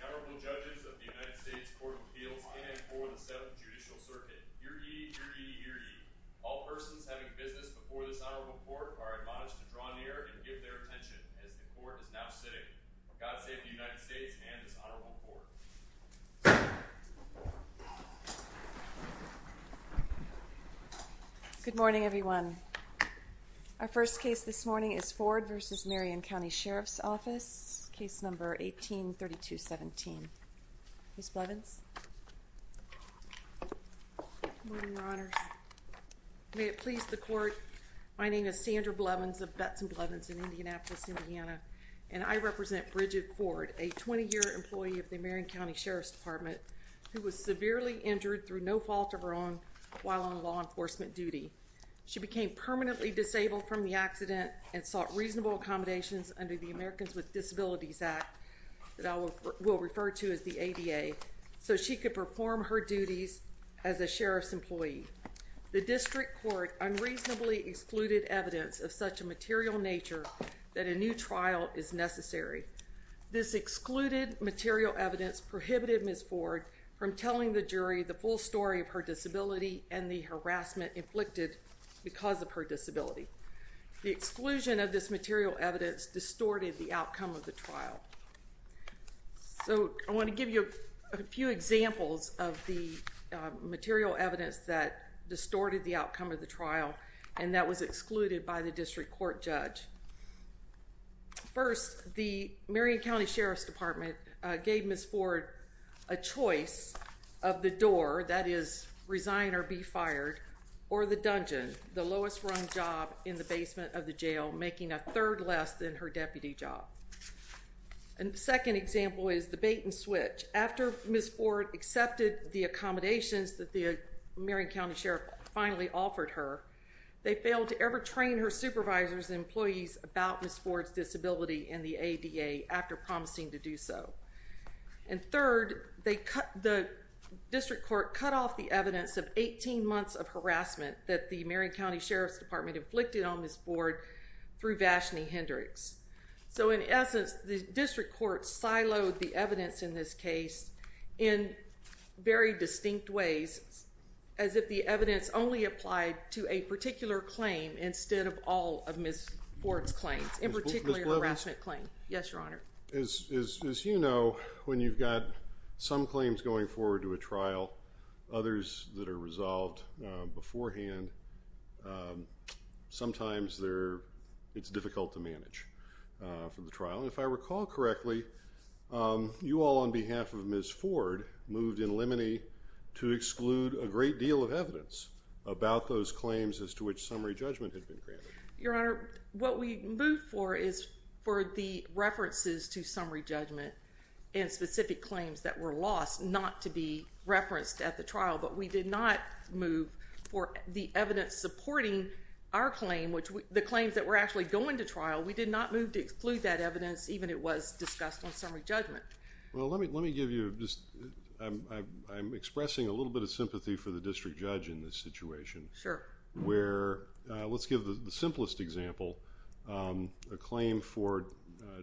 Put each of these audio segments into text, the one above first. The Honorable Judges of the United States Court of Appeals in and for the Seventh Judicial Circuit. The Honorable Judges of the United States Court of Appeals in and for the Seventh Judicial May it please the court. My name is Sandra Blevins of Betts and Blevins in Indianapolis, Indiana, and I represent Bridget Ford, a 20-year employee of the Marion County Sheriff's Department who was severely injured through no fault of her own while on law enforcement duty. She became permanently disabled from the accident and sought reasonable accommodations under the Americans with Disabilities Act that I will refer to as the ADA so she could perform her duties as a sheriff's employee. The district court unreasonably excluded evidence of such a material nature that a new trial is necessary. This excluded material evidence prohibited Ms. Ford from telling the jury the full story of her disability and the harassment inflicted because of her disability. So I want to give you a few examples of the material evidence that distorted the outcome of the trial and that was excluded by the district court judge. First, the Marion County Sheriff's Department gave Ms. Ford a choice of the door, that is resign or be fired, or the dungeon, the lowest rung job in the basement of the jail making a third less than her deputy job. And the second example is the bait and switch. After Ms. Ford accepted the accommodations that the Marion County Sheriff finally offered her, they failed to ever train her supervisors and employees about Ms. Ford's disability and the ADA after promising to do so. And third, the district court cut off the evidence of 18 months of harassment that the Ashley Hendricks. So in essence, the district court siloed the evidence in this case in very distinct ways as if the evidence only applied to a particular claim instead of all of Ms. Ford's claims, in particular her harassment claim. Yes, Your Honor. As you know, when you've got some claims going forward to a trial, others that are resolved beforehand, sometimes it's difficult to manage for the trial. And if I recall correctly, you all on behalf of Ms. Ford moved in Lemony to exclude a great deal of evidence about those claims as to which summary judgment had been granted. Your Honor, what we moved for is for the references to summary judgment and specific claims that were lost not to be referenced at the trial, but we did not move for the evidence supporting our claim, which the claims that were actually going to trial, we did not move to exclude that evidence even it was discussed on summary judgment. Well, let me give you just, I'm expressing a little bit of sympathy for the district judge in this situation. Sure. Where, let's give the simplest example, a claim for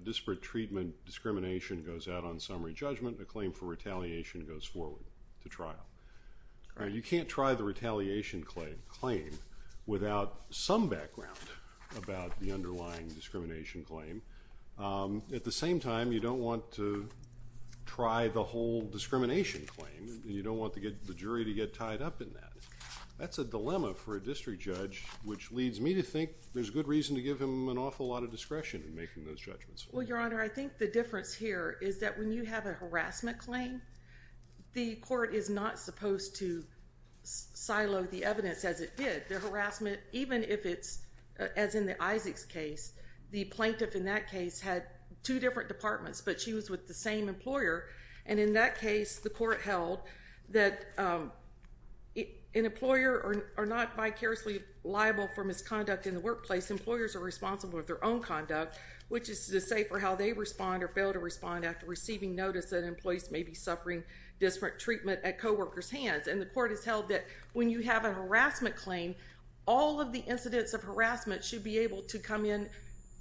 disparate treatment discrimination goes out on summary judgment, a claim for retaliation goes forward to trial. You can't try the retaliation claim without some background about the underlying discrimination claim. At the same time, you don't want to try the whole discrimination claim. You don't want the jury to get tied up in that. That's a dilemma for a district judge, which leads me to think there's good reason to give him an awful lot of discretion in making those judgments. Well, Your Honor, I think the difference here is that when you have a harassment claim, the court is not supposed to silo the evidence as it did. The harassment, even if it's, as in the Isaacs case, the plaintiff in that case had two different departments, but she was with the same employer, and in that case, the court held that an employer are not vicariously liable for misconduct in the workplace. Employers are responsible for their own conduct, which is to say for how they respond or fail to respond after receiving notice that employees may be suffering disparate treatment at co-workers' hands. And the court has held that when you have a harassment claim, all of the incidents of harassment should be able to come in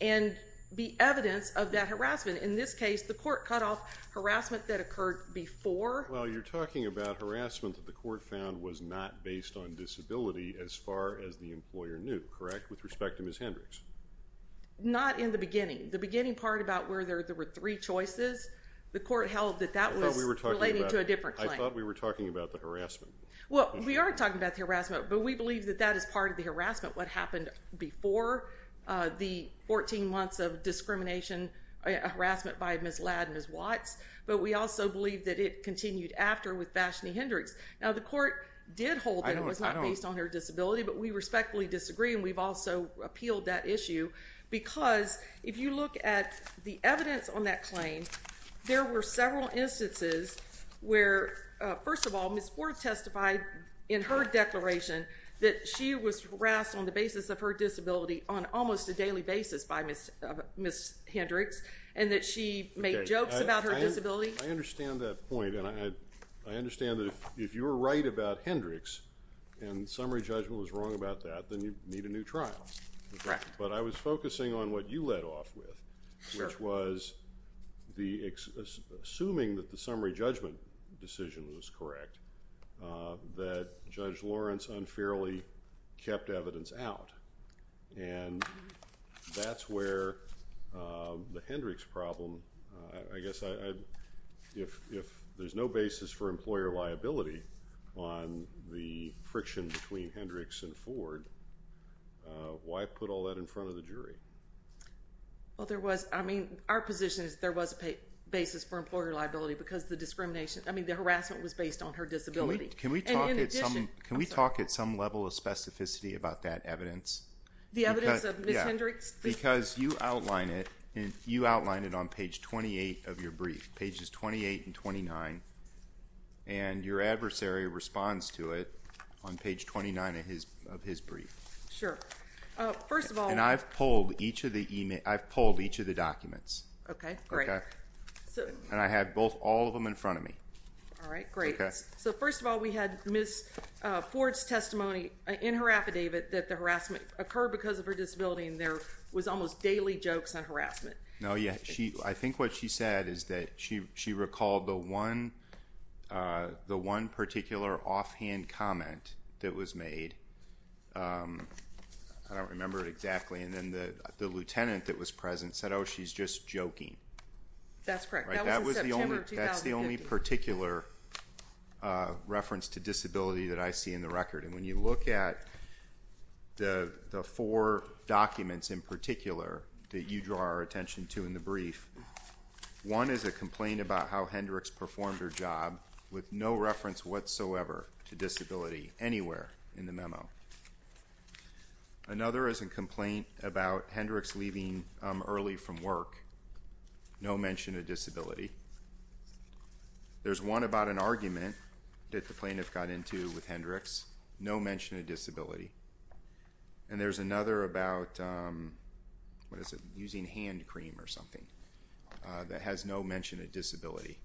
and be evidence of that harassment. In this case, the court cut off harassment that occurred before. Well, you're talking about harassment that the court found was not based on disability as far as the employer knew, correct? With respect to Ms. Hendricks. Not in the beginning. The beginning part about where there were three choices, the court held that that was relating to a different claim. I thought we were talking about the harassment. Well, we are talking about the harassment, but we believe that that is part of the harassment, what happened before the 14 months of discrimination, harassment by Ms. Ladd and Ms. Watts, but we also believe that it continued after with Vashney Hendricks. Now, the court did hold that it was not based on her disability, but we respectfully disagree, and we've also appealed that issue, because if you look at the evidence on that claim, there were several instances where, first of all, Ms. Ford testified in her declaration that she was harassed on the basis of her disability on almost a daily basis by Ms. Hendricks, and that she made jokes about her disability. I understand that point, and I understand that if you're right about Hendricks and summary judgment was wrong about that, then you need a new trial, but I was focusing on what you led off with, which was assuming that the summary judgment decision was correct, that Judge Lawrence unfairly kept evidence out, and that's where the Hendricks problem, I guess if there's no basis for employer liability on the friction between Hendricks and Ms. Hendricks and Ford, why put all that in front of the jury? Well, there was, I mean, our position is there was a basis for employer liability, because the discrimination, I mean, the harassment was based on her disability. Can we talk at some level of specificity about that evidence? The evidence of Ms. Hendricks? Because you outline it on page 28 of your brief, pages 28 and 29, and your adversary responds to it on page 29 of his brief. Sure. First of all... And I've pulled each of the documents. Okay, great. And I have both, all of them in front of me. All right, great. So first of all, we had Ms. Ford's testimony in her affidavit that the harassment occurred because of her disability, and there was almost daily jokes on harassment. No, yeah, I think what she said is that she recalled the one particular offhand comment that was made, I don't remember it exactly, and then the lieutenant that was present said, oh, she's just joking. That's correct. That was in September of 2015. That's the only particular reference to disability that I see in the record, and when you look at the four documents in particular that you draw our attention to in the brief, one is a complaint about how Hendricks performed her job with no reference whatsoever to disability anywhere in the memo. Another is a complaint about Hendricks leaving early from work, no mention of disability. There's one about an argument that the plaintiff got into with Hendricks, no mention of disability. And there's another about, what is it, using hand cream or something that has no mention of disability.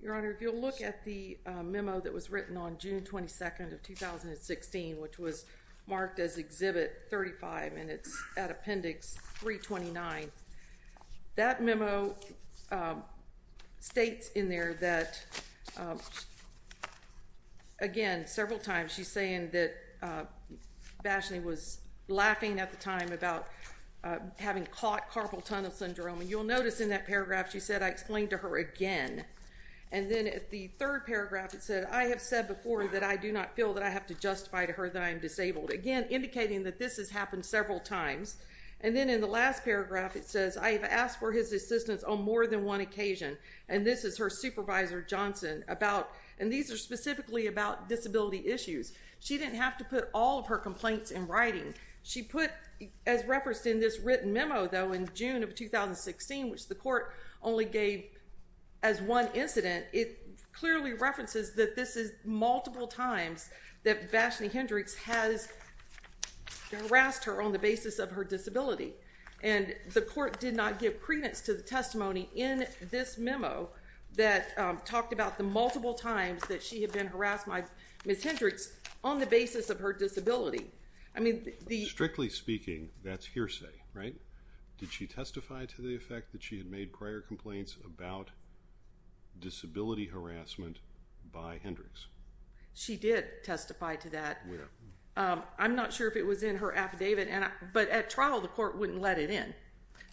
Your Honor, if you'll look at the memo that was written on June 22nd of 2016, which was states in there that, again, several times she's saying that Bashley was laughing at the time about having caught carpal tunnel syndrome, and you'll notice in that paragraph she said, I explained to her again. And then at the third paragraph it said, I have said before that I do not feel that I have to justify to her that I am disabled. Again, indicating that this has happened several times. And then in the last paragraph it says, I have asked for his assistance on more than one occasion. And this is her supervisor, Johnson, about, and these are specifically about disability issues. She didn't have to put all of her complaints in writing. She put, as referenced in this written memo, though, in June of 2016, which the court only gave as one incident, it clearly references that this is multiple times that Bashley Hendricks has harassed her on the basis of her disability. And the court did not give credence to the testimony in this memo that talked about the multiple times that she had been harassed by Ms. Hendricks on the basis of her disability. I mean, the- Strictly speaking, that's hearsay, right? Did she testify to the effect that she had made prior complaints about disability harassment by Hendricks? She did testify to that. I'm not sure if it was in her affidavit, but at trial the court wouldn't let it in.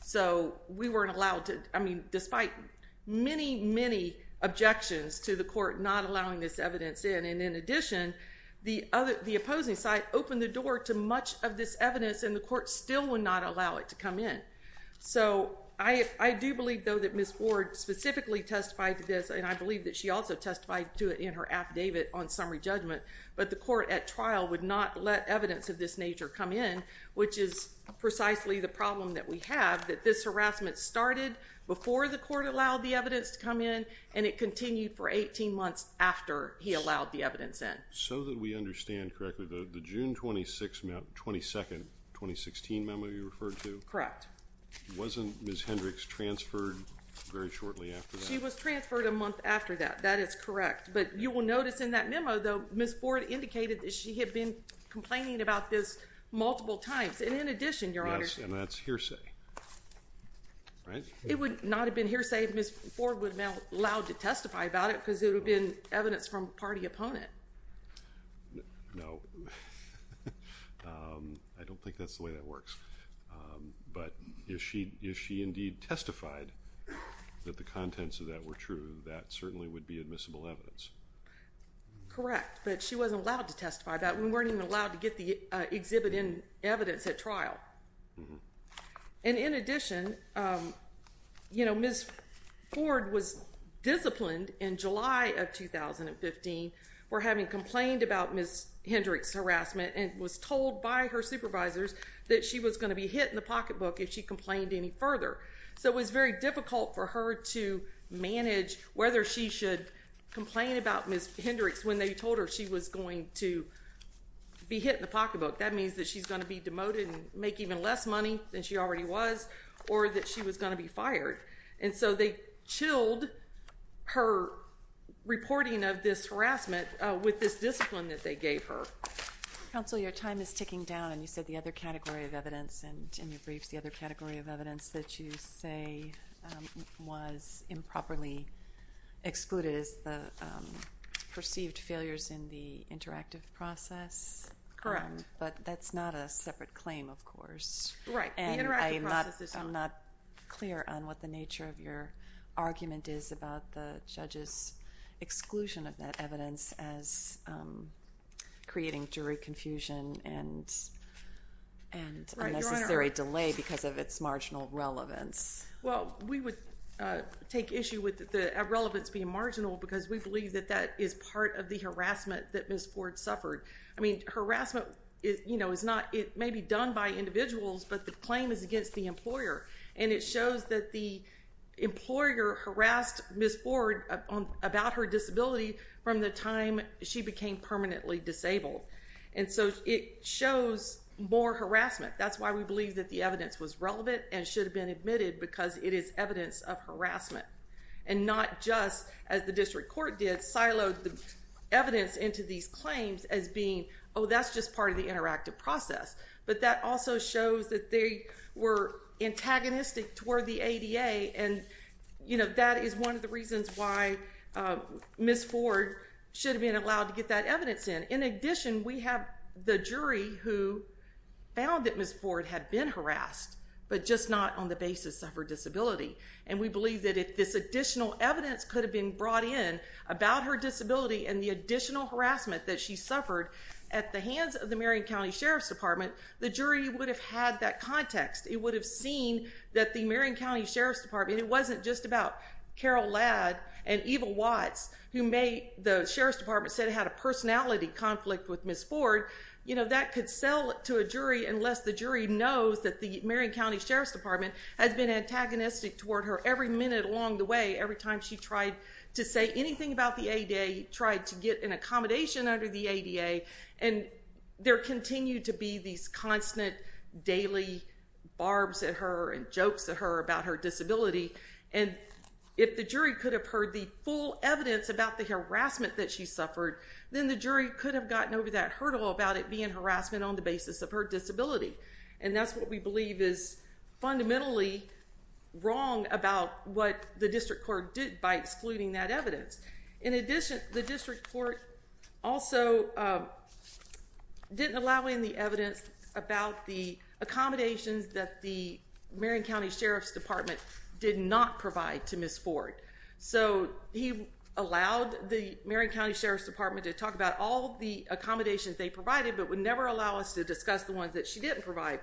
So we weren't allowed to, I mean, despite many, many objections to the court not allowing this evidence in, and in addition, the opposing side opened the door to much of this evidence and the court still would not allow it to come in. So I do believe, though, that Ms. Ford specifically testified to this, and I believe that she also testified to it in her affidavit on summary judgment, but the court at trial would not let evidence of this nature come in, which is precisely the problem that we have, that this harassment started before the court allowed the evidence to come in, and it continued for 18 months after he allowed the evidence in. So that we understand correctly, the June 26th, 22nd, 2016 memo you referred to? Correct. Wasn't Ms. Hendricks transferred very shortly after that? She was transferred a month after that. That is correct. But you will notice in that memo, though, Ms. Ford indicated that she had been complaining about this multiple times, and in addition, Your Honor. Yes, and that's hearsay. Right? It would not have been hearsay if Ms. Ford would have been allowed to testify about it because it would have been evidence from a party opponent. No. I don't think that's the way that works. But if she indeed testified that the contents of that were true, that certainly would be admissible evidence. Correct. But she wasn't allowed to testify about it, and we weren't even allowed to get the exhibit in evidence at trial. And in addition, you know, Ms. Ford was disciplined in July of 2015 for having complained about Ms. Hendricks' harassment and was told by her supervisors that she was going to be hit in the pocketbook if she complained any further. So it was very difficult for her to manage whether she should complain about Ms. Hendricks when they told her she was going to be hit in the pocketbook. That means that she's going to be demoted and make even less money than she already was or that she was going to be fired. And so they chilled her reporting of this harassment with this discipline that they gave her. Counsel, your time is ticking down, and you said the other category of evidence in your briefs, the other category of evidence that you say was improperly excluded is the perceived failures in the interactive process. Correct. But that's not a separate claim, of course. Right. And I'm not clear on what the nature of your argument is about the judge's exclusion of that evidence as creating jury confusion and unnecessary delay because of its marginal relevance. Well, we would take issue with the relevance being marginal because we believe that that is part of the harassment that Ms. Ford suffered. I mean, harassment, you know, is not, it may be done by individuals, but the claim is against the employer. And it shows that the employer harassed Ms. Ford about her disability from the time she became permanently disabled. And so it shows more harassment. That's why we believe that the evidence was relevant and should have been admitted because it is evidence of harassment. And not just, as the district court did, siloed the evidence into these claims as being, oh, that's just part of the interactive process. But that also shows that they were antagonistic toward the ADA, and, you know, that is one of the reasons why Ms. Ford should have been allowed to get that evidence in. In addition, we have the jury who found that Ms. Ford had been harassed, but just not on the basis of her disability. And we believe that if this additional evidence could have been brought in about her disability and the additional harassment that she suffered at the hands of the Marion County Sheriff's Department, the jury would have had that context. It would have seen that the Marion County Sheriff's Department, it wasn't just about Carol Ladd and Eva Watts, who may, the Sheriff's Department said had a personality conflict with Ms. Ford. You know, that could sell to a jury unless the jury knows that the Marion County Sheriff's Department, toward her, every minute along the way, every time she tried to say anything about the ADA, tried to get an accommodation under the ADA, and there continued to be these constant daily barbs at her and jokes at her about her disability. And if the jury could have heard the full evidence about the harassment that she suffered, then the jury could have gotten over that hurdle about it being harassment on the basis of her disability. And that's what we believe is fundamentally wrong about what the District Court did by excluding that evidence. In addition, the District Court also didn't allow in the evidence about the accommodations that the Marion County Sheriff's Department did not provide to Ms. Ford. So he allowed the Marion County Sheriff's Department to talk about all the accommodations they provided, but would never allow us to discuss the ones that she didn't provide,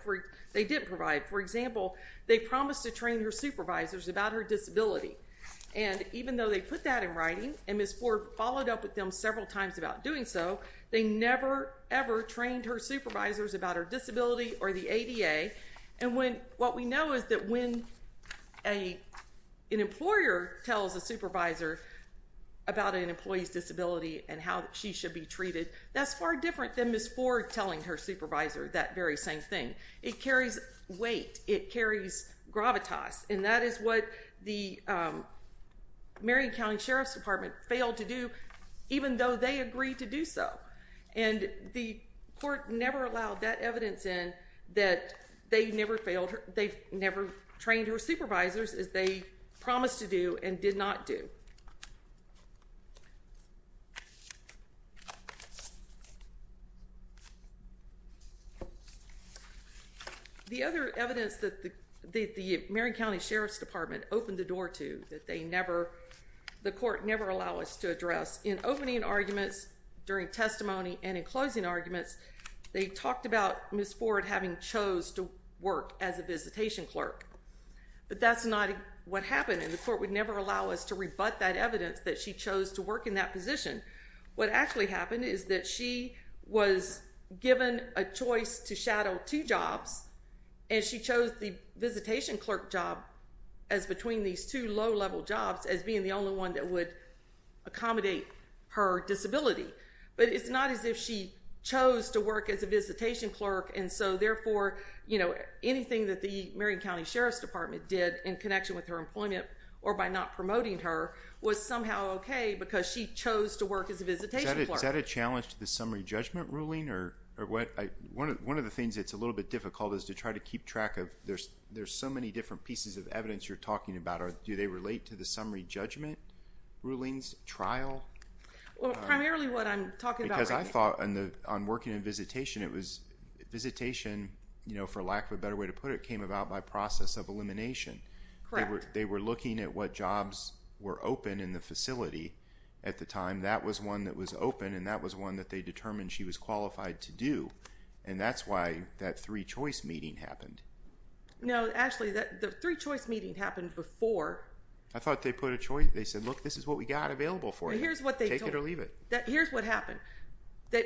they didn't provide. For example, they promised to train her supervisors about her disability. And even though they put that in writing, and Ms. Ford followed up with them several times about doing so, they never, ever trained her supervisors about her disability or the ADA. And what we know is that when an employer tells a supervisor about an employee's disability and how she should be treated, that's far different than Ms. Ford telling her supervisor that very same thing. It carries weight. It carries gravitas. And that is what the Marion County Sheriff's Department failed to do, even though they agreed to do so. And the court never allowed that evidence in that they never failed, they never trained her supervisors as they promised to do and did not do. The other evidence that the Marion County Sheriff's Department opened the door to that they never, the court never allowed us to address in opening arguments, during testimony and in closing arguments, they talked about Ms. Ford having chose to work as a visitation clerk. But that's not what happened, and the court would never allow us to rebut that evidence that she chose to work in that position. What actually happened is that she was given a choice to shadow two jobs, and she chose the visitation clerk job as between these two low-level jobs as being the only one that would accommodate her disability. But it's not as if she chose to work as a visitation clerk, and so therefore, you know, anything that the Marion County Sheriff's Department did in connection with her employment or by not promoting her was somehow okay because she chose to work as a visitation clerk. Is that a challenge to the summary judgment ruling? One of the things that's a little bit difficult is to try to keep track of, there's so many different pieces of evidence you're talking about. Do they relate to the summary judgment rulings trial? Well, primarily what I'm talking about right now. Because I thought on working in visitation, it was visitation, you know, for lack of a better way to put it, came about by process of elimination. They were looking at what jobs were open in the facility at the time. That was one that was open, and that was one that they determined she was qualified to do. And that's why that three-choice meeting happened. No, actually, the three-choice meeting happened before. I thought they put a choice, they said, look, this is what we got available for you. Here's what they told me. Take it or leave it. Here's what happened.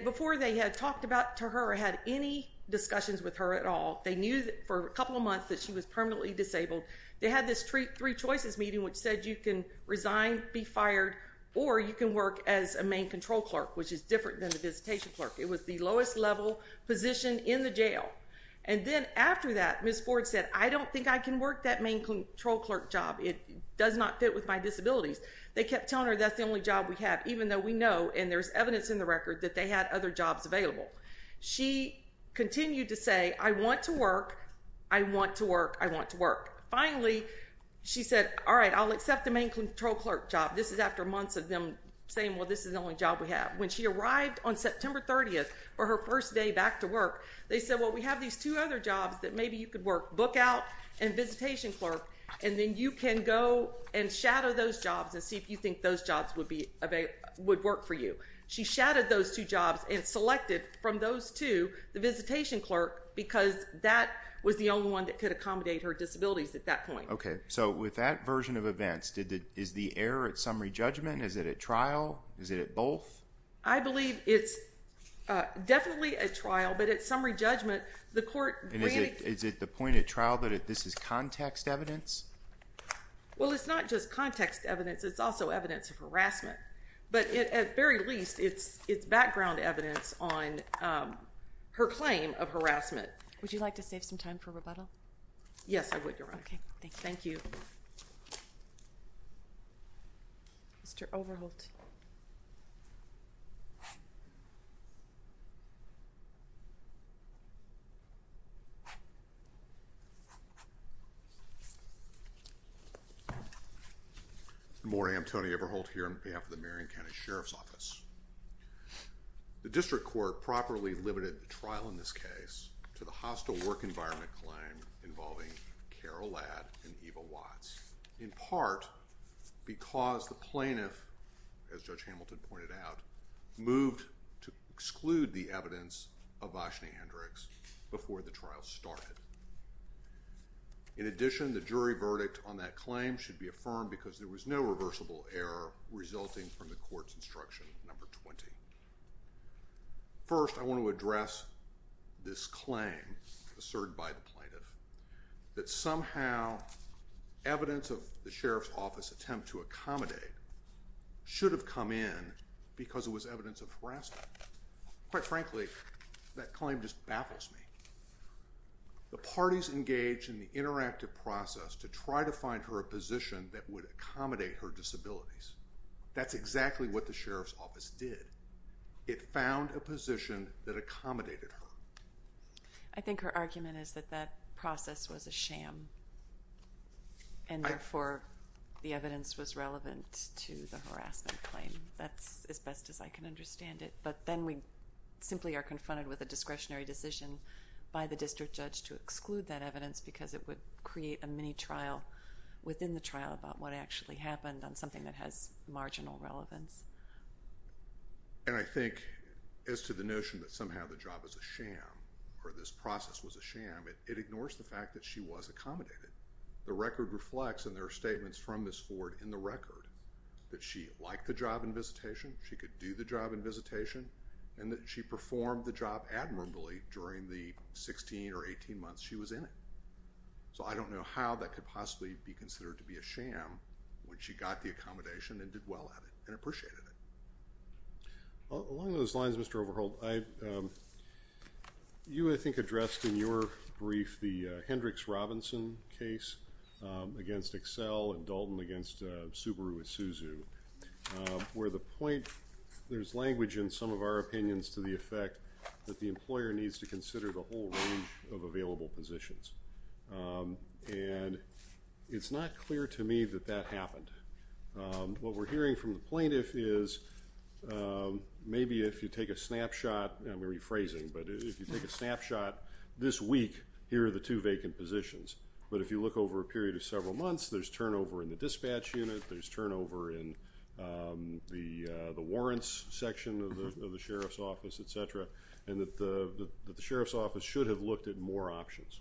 Before they had talked to her or had any discussions with her at all, they knew for a couple of months that she was permanently disabled. They had this three-choices meeting, which said you can resign, be fired, or you can work as a main control clerk, which is different than a visitation clerk. It was the lowest level position in the jail. And then after that, Ms. Ford said, I don't think I can work that main control clerk job. It does not fit with my disabilities. They kept telling her that's the only job we have, even though we know, and there's evidence in the record, that they had other jobs available. She continued to say, I want to work. I want to work. I want to work. Finally, she said, all right, I'll accept the main control clerk job. This is after months of them saying, well, this is the only job we have. When she arrived on September 30th for her first day back to work, they said, well, we have these two other jobs that maybe you could work, book out and visitation clerk, and then you can go and shadow those jobs and see if you think those jobs would work for you. She shadowed those two jobs and selected from those two, the visitation clerk, because that was the only one that could accommodate her disabilities at that point. Okay. So with that version of events, is the error at summary judgment? Is it at trial? Is it at both? I believe it's definitely at trial, but at summary judgment, the court granted... Is it the point at trial that this is context evidence? Well, it's not just context evidence. It's also evidence of harassment. But at very least, it's background evidence on her claim of harassment. Would you like to save some time for rebuttal? Yes, I would, Your Honor. Okay. Thank you. Thank you. Mr. Overholt. I'm Tony Overholt here on behalf of the Supreme Court. And I'm here to speak on behalf of the Marion County Sheriff's Office. The district court properly limited the trial in this case to the hostile work environment claim involving Carol Ladd and Eva Watts, in part because the plaintiff, as Judge Hamilton pointed out, moved to exclude the evidence of Vashney Hendricks before the trial started. In addition, the jury verdict on that claim should be affirmed because there was no reversible error resulting from the court's instruction number 20. First, I want to address this claim asserted by the plaintiff that somehow evidence of the Sheriff's Office attempt to accommodate should have come in because it was evidence of harassment. Quite frankly, that claim just baffles me. The parties engaged in the interactive process to try to find her a position that would accommodate her disabilities. That's exactly what the Sheriff's Office did. It found a position that accommodated her. I think her argument is that that process was a sham and, therefore, the evidence was relevant to the harassment claim. That's as best as I can understand it, but then we simply are confronted with a discretionary decision by the district judge to exclude that evidence because it would create a mini-trial within the trial about what actually happened on something that has marginal relevance. I think as to the notion that somehow the job was a sham or this process was a sham, it ignores the fact that she was accommodated. The record reflects, and there are statements from Ms. Ford in the record, that she liked the job and visitation, she could do the job and visitation, and that she performed the job admirably during the 16 or 18 months she was in it. So I don't know how that could possibly be considered to be a sham when she got the accommodation and did well at it and appreciated it. Along those lines, Mr. Overholt, you, I think, addressed in your brief the Hendricks-Robinson case against Accel and Dalton against Subaru Isuzu, where the point—there's language in some of our opinions to the effect that the employer needs to consider the whole range of available positions, and it's not clear to me that that happened. What we're hearing from the plaintiff is maybe if you take a snapshot—I'm rephrasing—but if you take a snapshot this week, here are the two vacant positions, but if you look over a period of several months, there's turnover in the dispatch unit, there's turnover in the warrants section of the sheriff's office, etc., and that the sheriff's office should have looked at more options.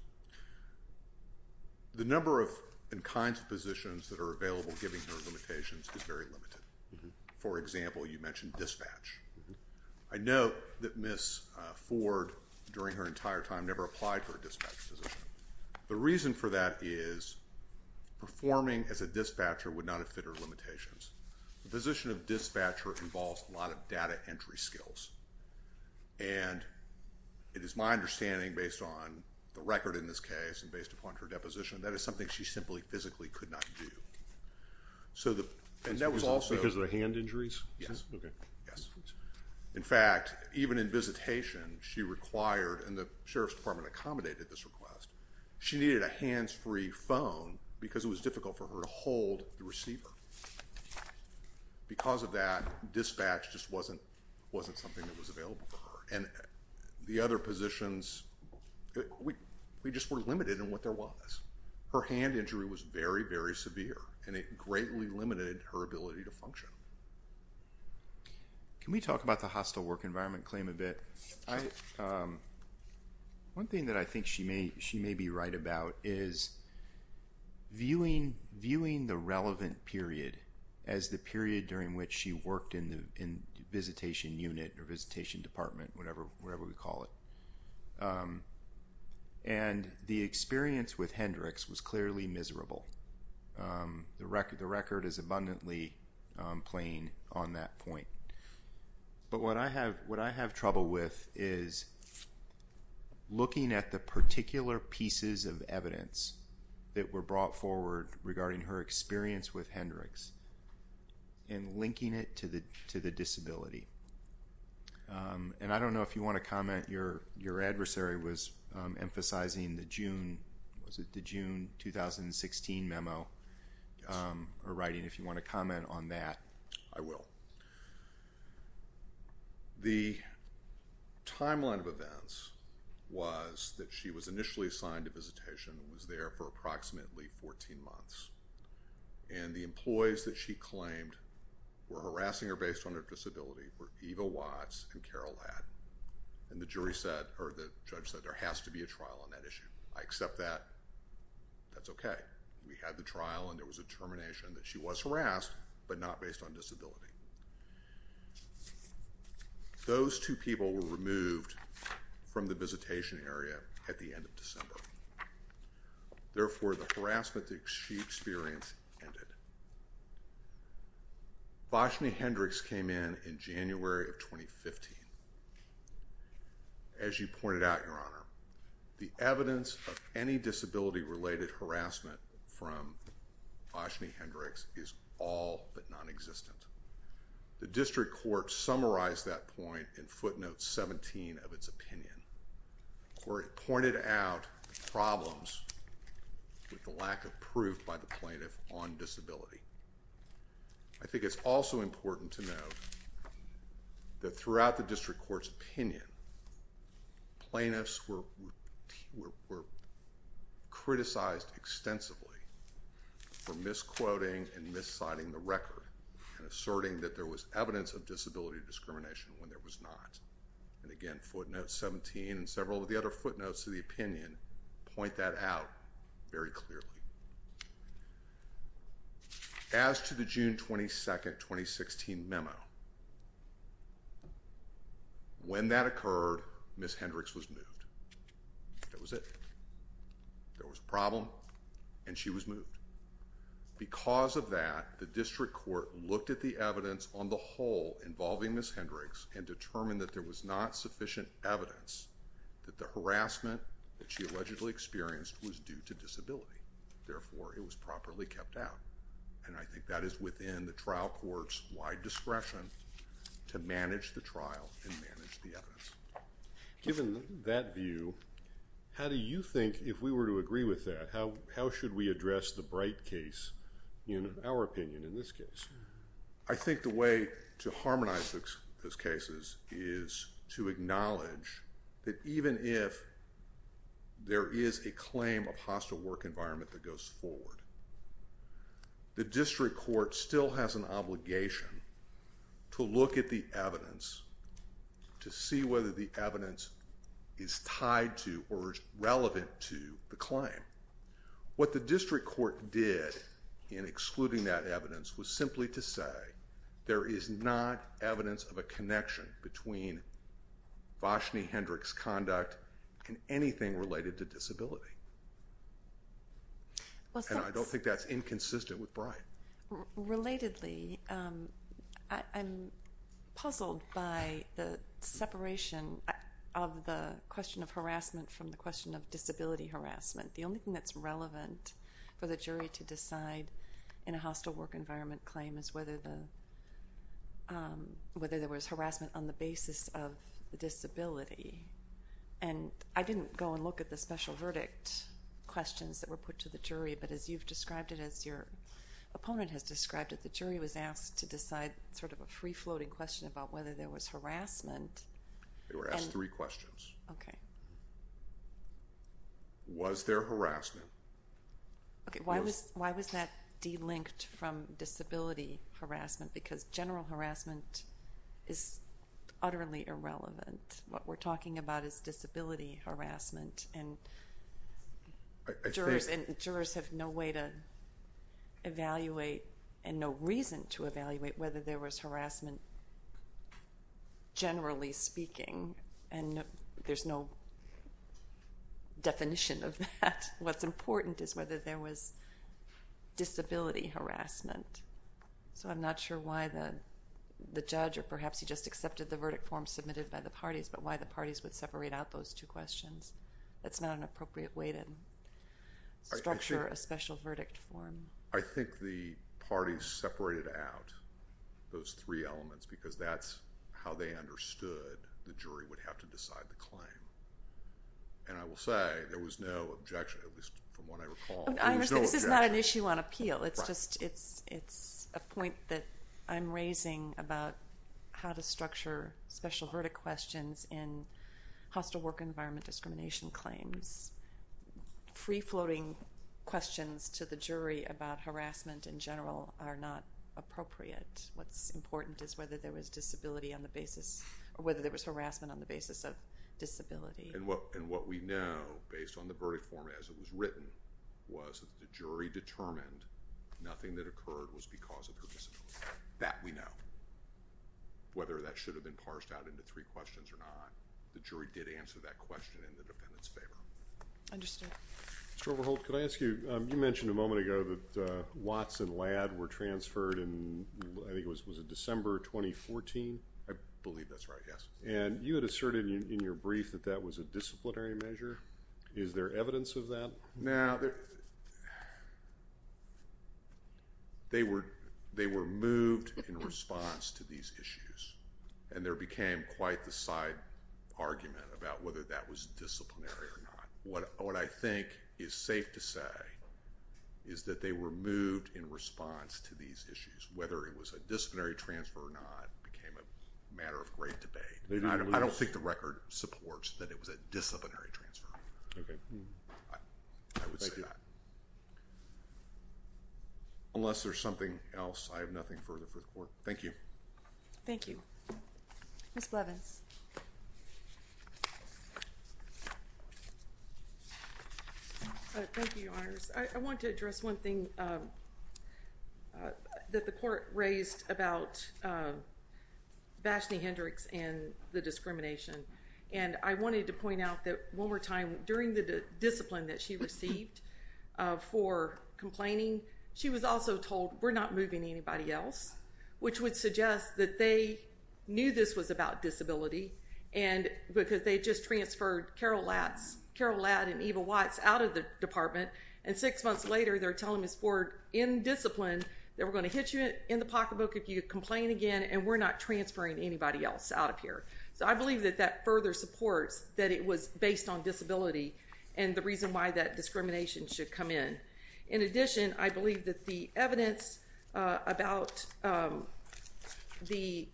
The number of and kinds of positions that are available given her limitations is very limited. For example, you mentioned dispatch. I note that Ms. Ford, during her entire time, never applied for a dispatch position. The reason for that is performing as a dispatcher would not have fit her limitations. The position of dispatcher involves a lot of data entry skills, and it is my understanding, based on the record in this case and based upon her deposition, that is something she simply physically could not do. So the—and that was also— Because of the hand injuries? Yes. Okay. Yes. In fact, even in visitation, she required—and the sheriff's department accommodated this request—she needed a hands-free phone because it was difficult for her to hold the receiver. Because of that, dispatch just wasn't something that was available for her. And the other positions, we just were limited in what there was. Her hand injury was very, very severe, and it greatly limited her ability to function. Can we talk about the hostile work environment claim a bit? One thing that I think she may be right about is viewing the relevant period as the period during which she worked in the visitation unit or visitation department, whatever we call it. And the experience with Hendricks was clearly miserable. The record is abundantly plain on that point. But what I have trouble with is looking at the particular pieces of evidence that were brought forward regarding her experience with Hendricks and linking it to the disability. And I don't know if you want to comment. Your adversary was emphasizing the June—was it the June 2016 memo or writing, if you want to comment on that. I will. The timeline of events was that she was initially assigned to visitation and was there for approximately 14 months. And the employees that she claimed were harassing her based on her disability were Eva Watts and Carol Ladd. And the jury said, or the judge said, there has to be a trial on that issue. I accept that. That's okay. We had the trial and there was a termination that she was harassed, but not based on disability. Those two people were removed from the visitation area at the end of December. Therefore the harassment that she experienced ended. Vashney Hendricks came in in January of 2015. As you pointed out, Your Honor, the evidence of any disability-related harassment from Vashney Hendricks is all but non-existent. The district court summarized that point in footnote 17 of its opinion, where it pointed out problems with the lack of proof by the plaintiff on disability. I think it's also important to note that throughout the district court's opinion, plaintiffs were criticized extensively for misquoting and misciting the record and asserting that there was evidence of disability discrimination when there was not. And again, footnote 17 and several of the other footnotes to the opinion point that out very clearly. As to the June 22, 2016 memo, when that occurred, Ms. Hendricks was moved. That was it. There was a problem and she was moved. Because of that, the district court looked at the evidence on the whole involving Ms. Hendricks and determined that there was not sufficient evidence that the harassment that was due to disability. Therefore, it was properly kept out. And I think that is within the trial court's wide discretion to manage the trial and manage the evidence. Given that view, how do you think, if we were to agree with that, how should we address the Bright case in our opinion in this case? I think the way to harmonize those cases is to acknowledge that even if there is a claim of hostile work environment that goes forward, the district court still has an obligation to look at the evidence to see whether the evidence is tied to or relevant to the claim. What the district court did in excluding that evidence was simply to say there is not evidence of a connection between Voshney Hendricks' conduct and anything related to disability. And I don't think that's inconsistent with Bright. Relatedly, I'm puzzled by the separation of the question of harassment from the question of disability harassment. The only thing that's relevant for the jury to decide in a hostile work environment claim is whether there was harassment on the basis of disability. And I didn't go and look at the special verdict questions that were put to the jury, but as you've described it, as your opponent has described it, the jury was asked to decide sort of a free-floating question about whether there was harassment. They were asked three questions. Was there harassment? Okay, why was that delinked from disability harassment? Because general harassment is utterly irrelevant. What we're talking about is disability harassment, and jurors have no way to evaluate and no reason to evaluate whether there was harassment generally speaking, and there's no definition of that. What's important is whether there was disability harassment. So I'm not sure why the judge, or perhaps he just accepted the verdict form submitted by the parties, but why the parties would separate out those two questions. That's not an appropriate way to structure a special verdict form. I think the parties separated out those three elements because that's how they understood the jury would have to decide the claim. And I will say there was no objection, at least from what I recall. There was no objection. I understand. This is not an issue on appeal. Right. It's a point that I'm raising about how to structure special verdict questions in hostile work environment discrimination claims. Free-floating questions to the jury about harassment in general are not appropriate. What's important is whether there was disability on the basis, or whether there was harassment on the basis of disability. And what we know, based on the verdict form as it was written, was that the jury determined nothing that occurred was because of her disability. That we know. Whether that should have been parsed out into three questions or not, the jury did answer that question in the defendant's favor. Understood. Mr. Overholt, could I ask you, you mentioned a moment ago that Watts and Ladd were transferred in, I think it was December 2014? I believe that's right, yes. And you had asserted in your brief that that was a disciplinary measure. Is there evidence of that? Now, they were moved in response to these issues. And there became quite the side argument about whether that was disciplinary or not. What I think is safe to say is that they were moved in response to these issues. Whether it was a disciplinary transfer or not became a matter of great debate. I don't think the record supports that it was a disciplinary transfer. Okay. Thank you. I would say that. Unless there's something else, I have nothing further for the Court. Thank you. Thank you. Ms. Blevins. Thank you, Your Honors. I want to address one thing that the Court raised about Vashti Hendricks and the discrimination. And I wanted to point out that one more time, during the discipline that she received for complaining, she was also told, we're not moving anybody else. Which would suggest that they knew this was about disability and because they just transferred Carol Ladd and Eva Watts out of the department, and six months later they're telling Ms. Ford, in discipline, that we're going to hit you in the pocketbook if you complain again and we're not transferring anybody else out of here. So, I believe that that further supports that it was based on disability and the reason why that discrimination should come in. In addition, I believe that the evidence about the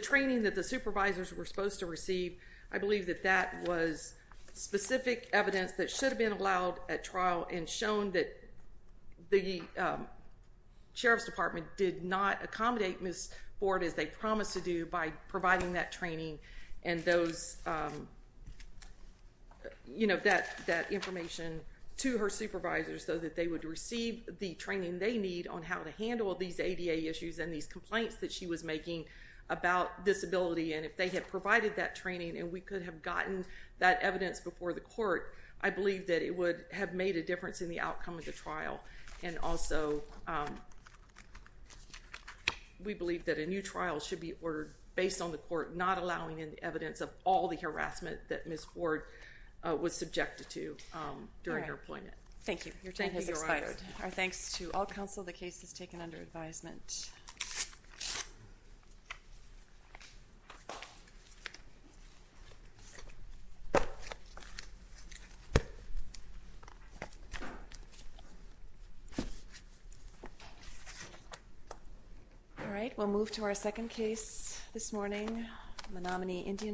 training that the supervisors were supposed to receive, I believe that that was specific evidence that should have been allowed at trial and shown that the Sheriff's Department did not accommodate Ms. Ford as they promised to do by providing that training and that information to her supervisors so that they would receive the training they need on how to handle these ADA issues and these complaints that she was making about disability. And if they had provided that training and we could have gotten that evidence before the court, I believe that it would have made a difference in the outcome of the trial. And also, we believe that a new trial should be ordered based on the court not allowing evidence of all the harassment that Ms. Ford was subjected to during her appointment. Thank you. Your time has expired. Thank you, Your Honor. Our thanks to all counsel. The case is taken under advisement. All right, we'll move to our second case this morning, the nominee, Indian Boy.